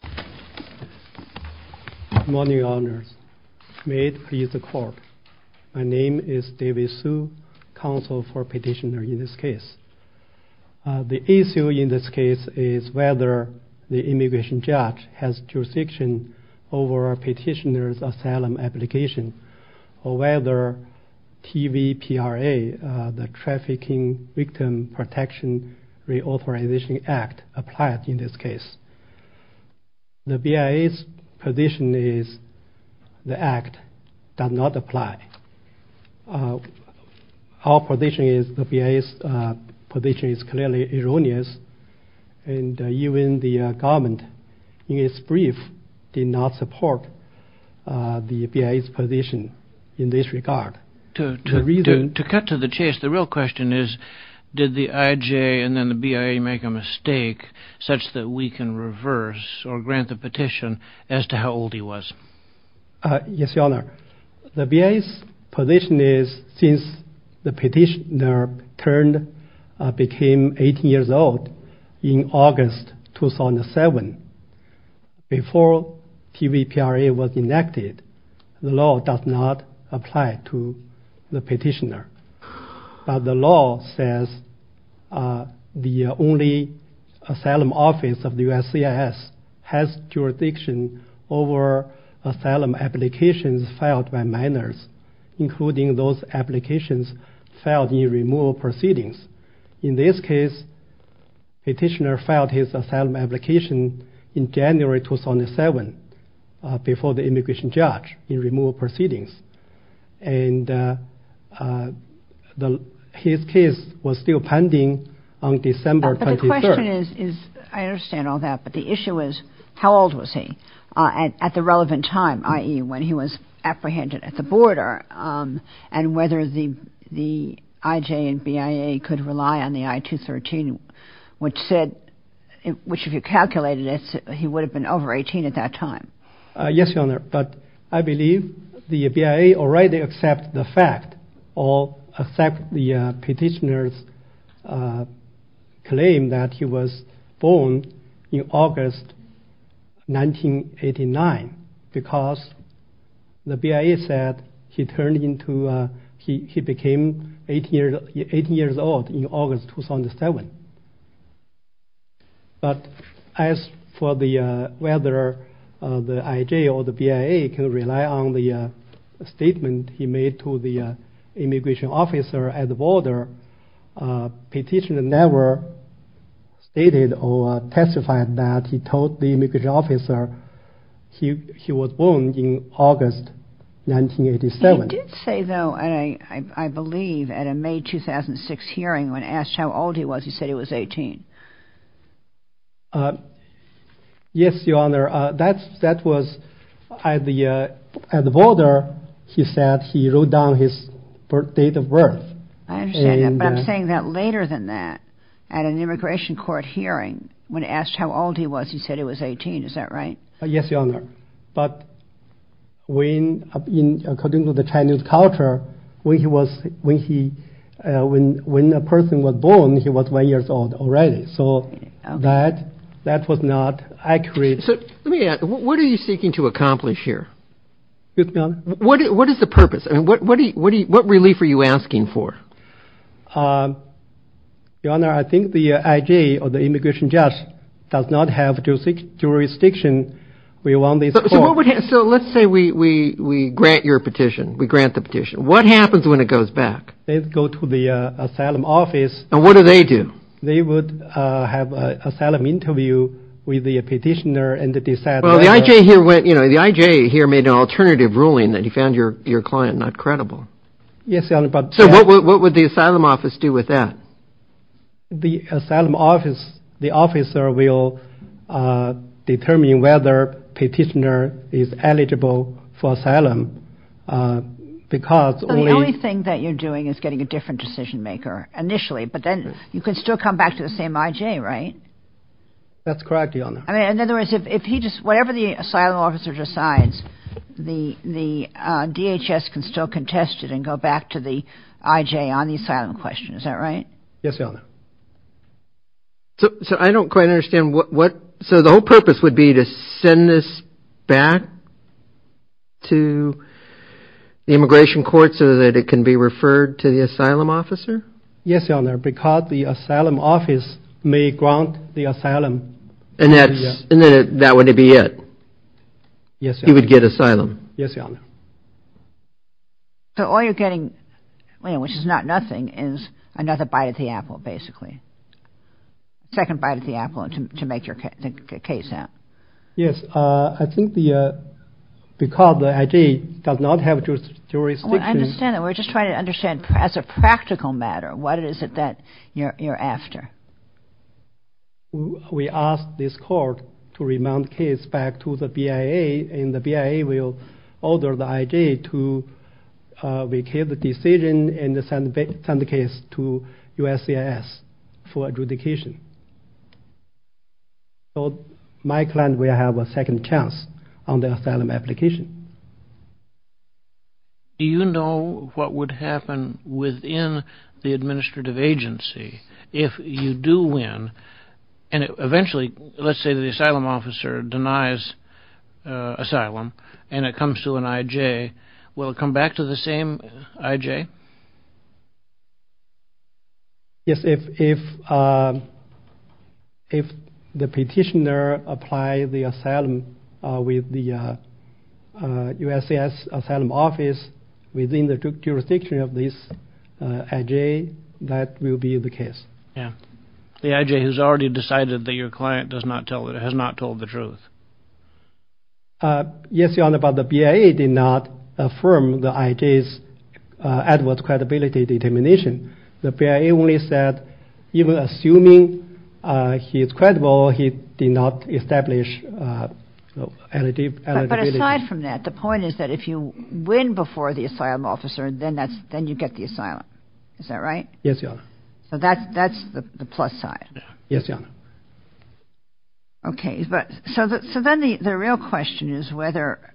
Good morning, Your Honors. May it please the court, my name is David Su, counsel for petitioner in this case. The issue in this case is whether the immigration judge has jurisdiction over petitioner's asylum application or whether TVPRA, the Trafficking Victim Protection Reauthorization Act applied in this case. The BIA's position is the act does not apply. Our position is the BIA's position is clearly erroneous and even the government in its brief did not support the BIA's position in this regard. The reason... To cut to the chase, the real question is did the IJ and then the BIA make a mistake such that we can reverse or grant the petition as to how old he was? Yes, Your Honor. The BIA's position is since the petitioner turned, became 18 years old in August 2007, before TVPRA was enacted, the law does not apply to the petitioner, but the law says the only asylum office of the USCIS has jurisdiction over asylum applications filed by minors, including those in January 2007 before the immigration judge in removal proceedings. And his case was still pending on December 23rd. But the question is, I understand all that, but the issue is how old was he at the relevant time, i.e. when he was apprehended at the border and whether the IJ and BIA could rely on the I-213, which said, which if you calculated it, he would have been over 18 at that time. Yes, Your Honor, but I believe the BIA already accept the fact or accept the petitioner's claim that he was born in August 1989, because the BIA said he became 18 years old in August 2007. But as for whether the IJ or the BIA can rely on the statement he made to the immigration officer at the border, the petitioner never stated or testified that he told the immigration officer he was born in August 1987. He did say, though, I believe at a May 2006 hearing, when asked how old he was, he said he was 18. Yes, Your Honor, that was at the border, he said he wrote down his birth date of birth. I understand that, but I'm saying that later than that, at an immigration court hearing, when asked how old he was, he said he was 18. Is that right? Yes, Your Honor, but according to the Chinese culture, when a person was born, he was one year old already. So that was not accurate. Let me ask, what are you seeking to accomplish here? What is the purpose? What relief are you asking for? Your Honor, I think the IJ or the immigration judge does not have jurisdiction. So let's say we grant your petition. We grant the petition. What happens when it goes back? They go to the asylum office. And what do they do? They would have an asylum interview with the petitioner and decide. Well, the IJ here went, you know, the IJ here made an alternative ruling that he found your client not credible. Yes, Your Honor, but. So what would the asylum office do with that? The asylum office, the officer will determine whether petitioner is eligible for asylum because. The only thing that you're doing is getting a different decision maker initially, but then you can still come back to the same IJ, right? That's correct, Your Honor. I mean, in other words, if he just whatever the asylum officer decides, the DHS can still contest it and go back to the IJ on the asylum question. Is that right? Yes, Your Honor. So I don't quite understand what. So the whole purpose would be to send this back to the immigration court so that it can be referred to the asylum officer? Yes, Your Honor, because the asylum office may grant the asylum. And then that would be it. Yes, Your Honor. He would get asylum. Yes, Your Honor. So all you're getting, which is not nothing, is another bite of the apple, basically. Second bite of the apple to make your case out. Yes, I think because the IJ does not have jurisdiction. I understand that. We're just trying to understand as a practical matter, what is it that you're after? We asked this court to remand the case back to the BIA, and the BIA will order the IJ to make a decision and send the case to USCIS for adjudication. So my client will have a second chance on the asylum application. Do you know what would happen within the administrative agency if you do win? And eventually, let's say the asylum officer denies asylum and it comes to an IJ. Will it come back to the same IJ? Yes, if the petitioner applies the asylum with the USCIS asylum office within the jurisdiction of this IJ, that will be the case. Yeah. The IJ has already decided that your client has not told the truth. Yes, Your Honor, but the BIA did not affirm the IJ's adverse credibility determination. The BIA only said, even assuming he is credible, he did not establish eligibility. But aside from that, the point is that if you win before the asylum officer, then you get the asylum. Is that right? Yes, Your Honor. So that's the plus side. Yes, Your Honor. Okay. So then the real question is whether,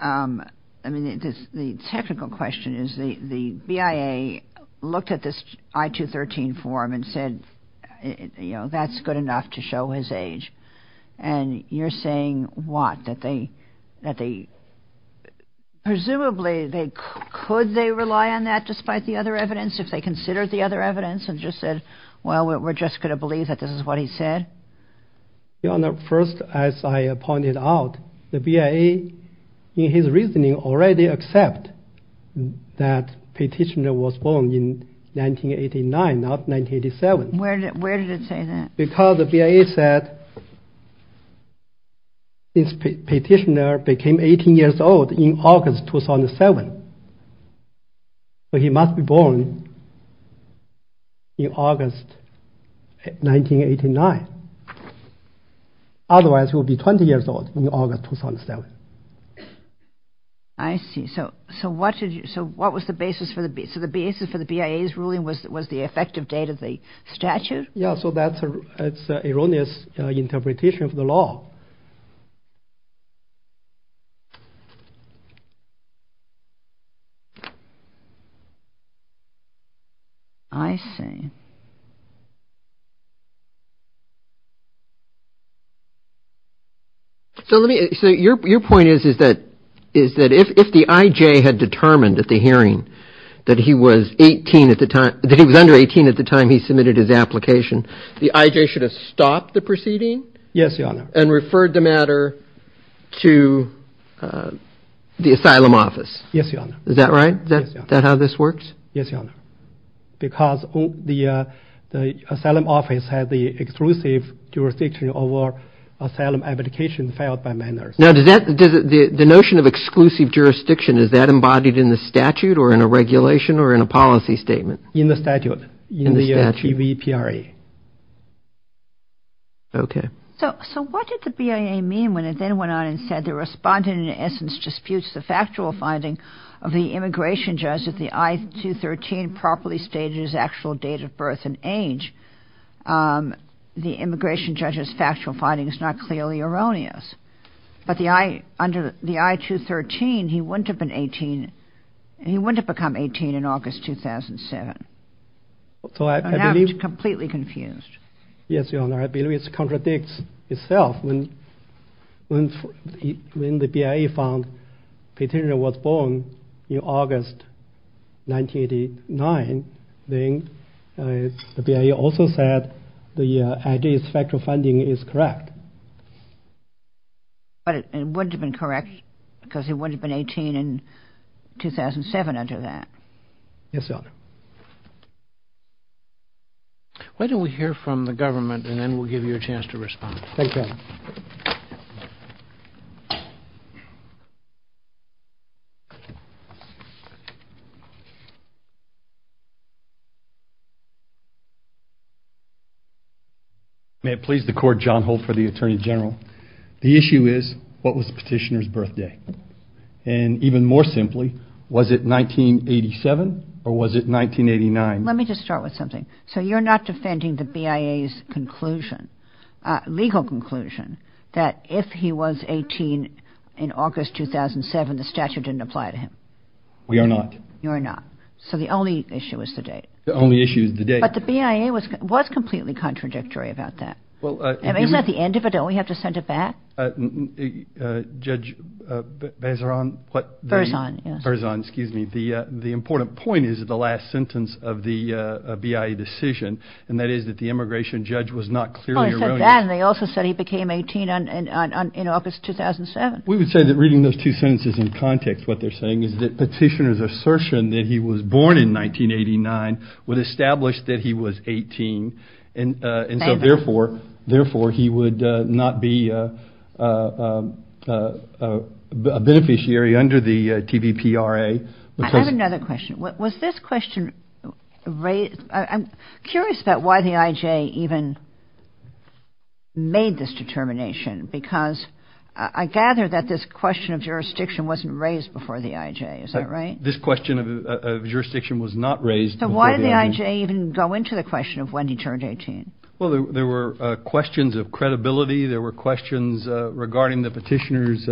I mean, the technical question is the BIA looked at this I-213 form and said, you know, that's good enough to show his age. And you're saying what? That they, presumably, could they rely on that despite the other evidence if they considered the other evidence and just said, well, we're just going to believe that this is what he said? Your Honor, first, as I pointed out, the BIA, in his reasoning, already accepted that the petitioner was born in 1989, not 1987. Where did it say that? Because the BIA said this petitioner became 18 years old in August 2007. So he must be born in August 1989. Otherwise, he would be 20 years old in August 2007. I see. So what was the basis for the BIA's ruling? Was the effective date of the statute? Yeah, so that's an erroneous interpretation of the law. I see. So your point is that if the IJ had determined at the hearing that he was under 18 at the time he submitted his application, the IJ should have stopped the proceeding? Yes, Your Honor. And referred the matter to the asylum office. Yes, Your Honor. Is that right? Is that how this works? Yes, Your Honor. Because the asylum office had the exclusive jurisdiction over asylum applications filed by minors. Now, the notion of exclusive jurisdiction, is that embodied in the statute or in a regulation or in a policy statement? In the statute. In the statute. In the TVPRA. Okay. So what did the BIA mean when it then went on and said the respondent in essence disputes the factual finding of the immigration judge that the I-213 properly stated his actual date of birth and age? The immigration judge's factual finding is not clearly erroneous. But under the I-213, he wouldn't have become 18 in August 2007. So now it's completely confused. Yes, Your Honor. I believe it contradicts itself. When the BIA found Peter was born in August 1989, then the BIA also said the IJ's factual finding is correct. But it wouldn't have been correct because he wouldn't have been 18 in 2007 under that. Yes, Your Honor. Why don't we hear from the government and then we'll give you a chance to respond. Thank you, Your Honor. May it please the Court, John Holt for the Attorney General. The issue is, what was the petitioner's birthday? And even more simply, was it 1987 or was it 1989? Let me just start with something. So you're not defending the BIA's conclusion, legal conclusion, that if he was 18 in August 2007, the statute didn't apply to him? We are not. You are not. So the only issue is the date. The only issue is the date. But the BIA was completely contradictory about that. Isn't that the end of it? Don't we have to send it back? Judge Bazeran? Berzon, yes. Berzon, excuse me. The important point is the last sentence of the BIA decision, and that is that the immigration judge was not clearly erroneous. Well, they said that and they also said he became 18 in August 2007. We would say that reading those two sentences in context, what they're saying is that petitioner's assertion that he was born in 1989 would establish that he was 18. And so, therefore, he would not be a beneficiary under the TVPRA. I have another question. Was this question raised – I'm curious about why the IJ even made this determination because I gather that this question of jurisdiction wasn't raised before the IJ. Is that right? This question of jurisdiction was not raised before the IJ. Did the IJ even go into the question of when he turned 18? Well, there were questions of credibility. There were questions regarding the petitioner's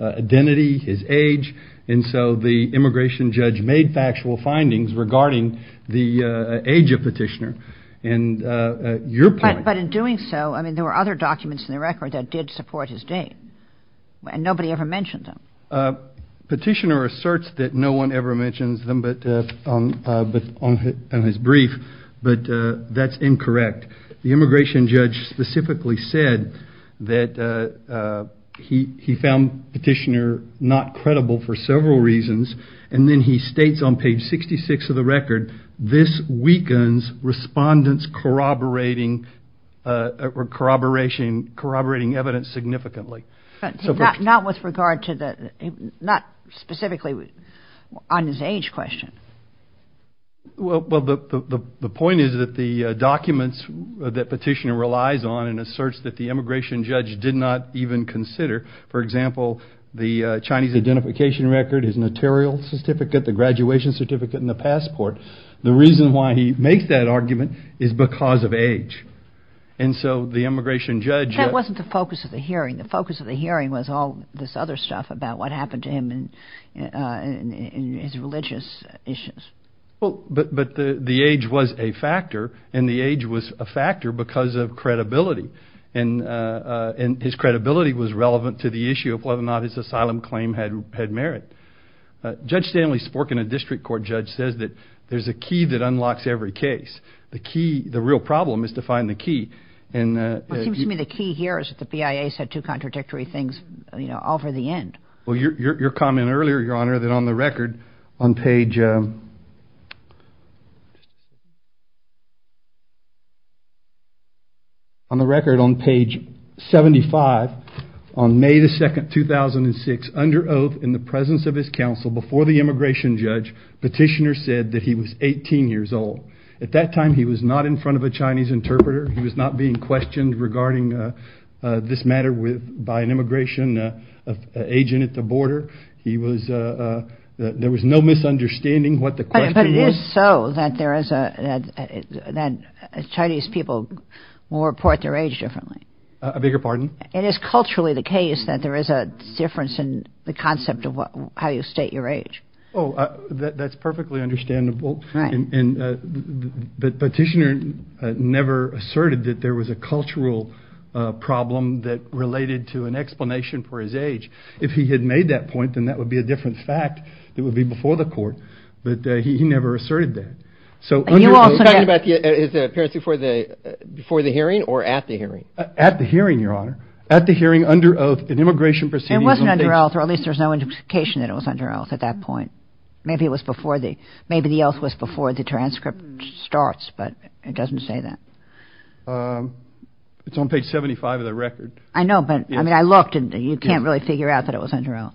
identity, his age. And so the immigration judge made factual findings regarding the age of petitioner. And your point – But in doing so, I mean, there were other documents in the record that did support his date, and nobody ever mentioned them. Petitioner asserts that no one ever mentions them on his brief, but that's incorrect. The immigration judge specifically said that he found petitioner not credible for several reasons. And then he states on page 66 of the record, this weakens respondents corroborating evidence significantly. But not with regard to the – not specifically on his age question. Well, the point is that the documents that petitioner relies on and asserts that the immigration judge did not even consider, for example, the Chinese identification record, his notarial certificate, the graduation certificate, and the passport, the reason why he makes that argument is because of age. And so the immigration judge – But that wasn't the focus of the hearing. The focus of the hearing was all this other stuff about what happened to him and his religious issues. But the age was a factor, and the age was a factor because of credibility. And his credibility was relevant to the issue of whether or not his asylum claim had merit. Judge Stanley Sporkin, a district court judge, says that there's a key that unlocks every case. The key – the real problem is to find the key. Well, it seems to me the key here is that the BIA said two contradictory things, you know, all for the end. Well, your comment earlier, Your Honor, that on the record on page – on the record on page 75, on May 2, 2006, under oath in the presence of his counsel, before the immigration judge, petitioner said that he was 18 years old. At that time, he was not in front of a Chinese interpreter. He was not being questioned regarding this matter by an immigration agent at the border. He was – there was no misunderstanding what the question was. But it is so that there is a – that Chinese people will report their age differently. A bigger pardon? It is culturally the case that there is a difference in the concept of how you state your age. Oh, that's perfectly understandable. Right. And the petitioner never asserted that there was a cultural problem that related to an explanation for his age. If he had made that point, then that would be a different fact. It would be before the court. But he never asserted that. So under oath – Are you talking about his appearance before the hearing or at the hearing? At the hearing, Your Honor. At the hearing, under oath, an immigration proceeding – It wasn't under oath, or at least there's no indication that it was under oath at that point. Maybe it was before the – maybe the oath was before the transcript starts, but it doesn't say that. It's on page 75 of the record. I know, but, I mean, I looked and you can't really figure out that it was under oath.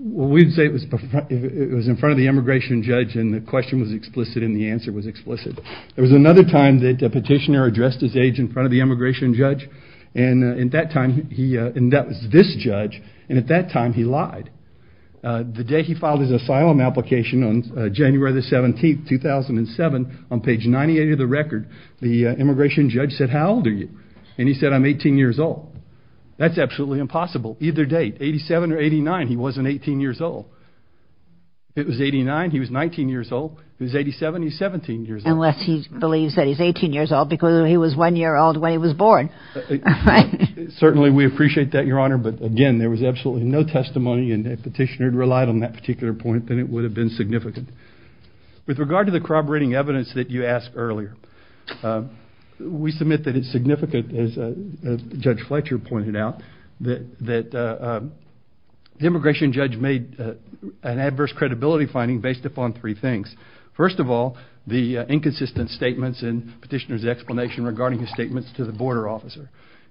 Well, we'd say it was in front of the immigration judge and the question was explicit and the answer was explicit. There was another time that a petitioner addressed his age in front of the immigration judge, and at that time he – and that was this judge, and at that time he lied. The day he filed his asylum application on January the 17th, 2007, on page 98 of the record, the immigration judge said, how old are you? And he said, I'm 18 years old. That's absolutely impossible. Either date, 87 or 89, he wasn't 18 years old. It was 89, he was 19 years old. It was 87, he's 17 years old. Unless he believes that he's 18 years old because he was one year old when he was born. Certainly we appreciate that, Your Honor, but, again, there was absolutely no testimony and if the petitioner had relied on that particular point, then it would have been significant. With regard to the corroborating evidence that you asked earlier, we submit that it's significant, as Judge Fletcher pointed out, that the immigration judge made an adverse credibility finding based upon three things. First of all, the inconsistent statements in the petitioner's explanation regarding his statements to the border officer.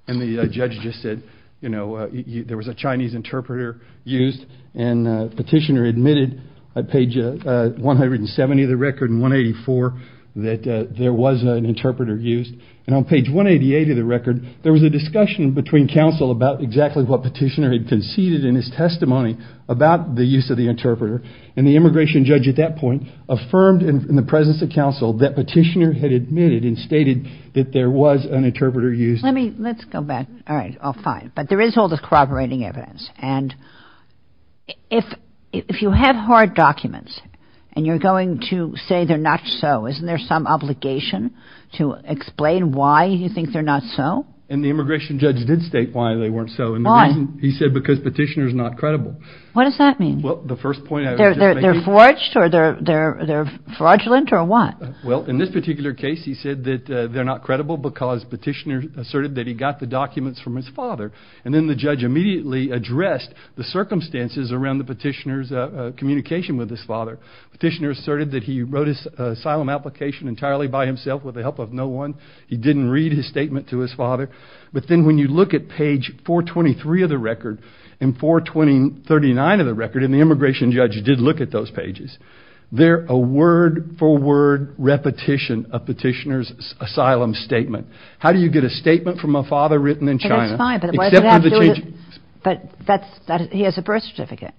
And the judge just said, you know, there was a Chinese interpreter used and the petitioner admitted on page 170 of the record and 184 that there was an interpreter used. And on page 188 of the record, there was a discussion between counsel about exactly what the petitioner had conceded in his testimony about the use of the interpreter. And the immigration judge at that point affirmed in the presence of counsel that petitioner had admitted and stated that there was an interpreter used. Let's go back. All right. Fine. But there is all this corroborating evidence. And if you have hard documents and you're going to say they're not so, isn't there some obligation to explain why you think they're not so? And the immigration judge did state why they weren't so. Why? He said because petitioner's not credible. What does that mean? Well, the first point I would make is... They're forged or they're fraudulent or what? Well, in this particular case, he said that they're not credible because petitioner asserted that he got the documents from his father. And then the judge immediately addressed the circumstances around the petitioner's communication with his father. Petitioner asserted that he wrote his asylum application entirely by himself with the help of no one. He didn't read his statement to his father. But then when you look at page 423 of the record and 439 of the record, and the immigration judge did look at those pages, they're a word-for-word repetition of petitioner's asylum statement. How do you get a statement from a father written in China... That's fine, but he has a birth certificate.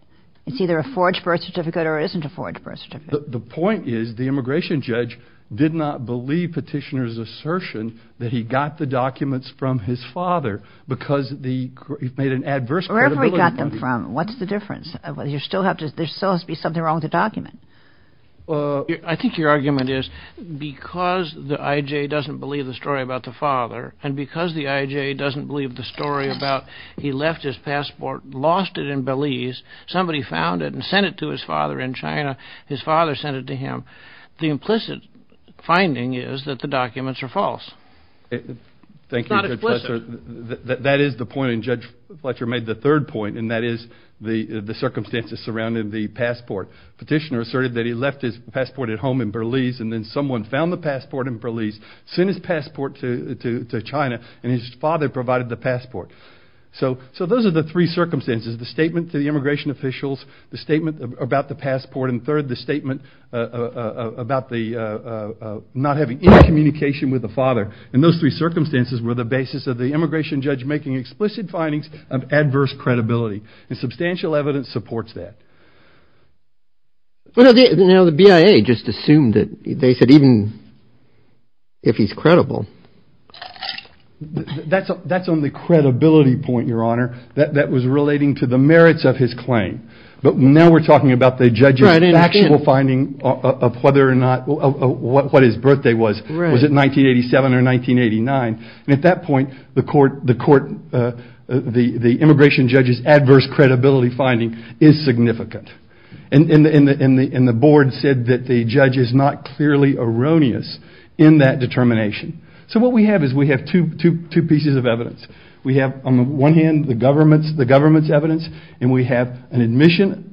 It's either a forged birth certificate or it isn't a forged birth certificate. The point is the immigration judge did not believe petitioner's assertion that he got the documents from his father because he made an adverse credibility... Wherever he got them from, what's the difference? There still has to be something wrong with the document. I think your argument is because the IJ doesn't believe the story about the father and because the IJ doesn't believe the story about he left his passport, lost it in Belize, somebody found it and sent it to his father in China, his father sent it to him, the implicit finding is that the documents are false. Thank you, Judge Fletcher. It's not explicit. That is the point, and Judge Fletcher made the third point, and that is the circumstances surrounding the passport. Petitioner asserted that he left his passport at home in Belize and then someone found the passport in Belize, sent his passport to China, and his father provided the passport. So those are the three circumstances, the statement to the immigration officials, the statement about the passport, and third, the statement about not having any communication with the father, and those three circumstances were the basis of the immigration judge making explicit findings of adverse credibility, and substantial evidence supports that. Now the BIA just assumed that they said even if he's credible... That's on the credibility point, Your Honor, that was relating to the merits of his claim, but now we're talking about the judge's factual finding of what his birthday was. Was it 1987 or 1989? At that point, the immigration judge's adverse credibility finding is significant, and the board said that the judge is not clearly erroneous in that determination. So what we have is we have two pieces of evidence. And we have an admission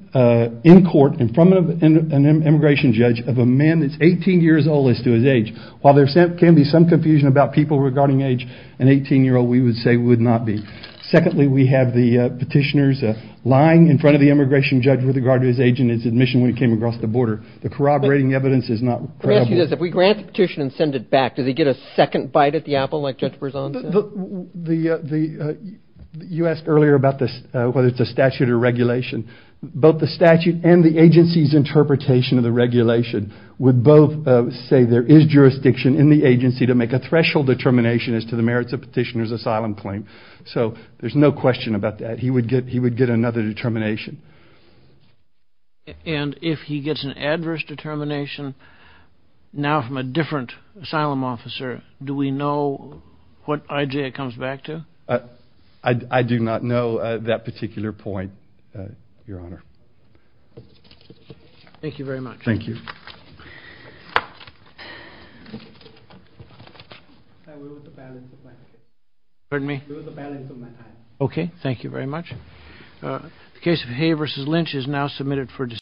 in court in front of an immigration judge of a man that's 18 years old as to his age. While there can be some confusion about people regarding age, an 18-year-old we would say would not be. Secondly, we have the petitioners lying in front of the immigration judge with regard to his age and his admission when he came across the border. The corroborating evidence is not credible. Let me ask you this. If we grant the petition and send it back, does he get a second bite at the apple like Judge Berzon said? You asked earlier about whether it's a statute or regulation. Both the statute and the agency's interpretation of the regulation would both say there is jurisdiction in the agency to make a threshold determination as to the merits of the petitioner's asylum claim. So there's no question about that. He would get another determination. And if he gets an adverse determination now from a different asylum officer, do we know what IJ it comes back to? I do not know that particular point, Your Honor. Thank you very much. Thank you. Pardon me? Lose the balance of my time. Okay. Thank you very much. The case of Hay v. Lynch is now submitted for discussion.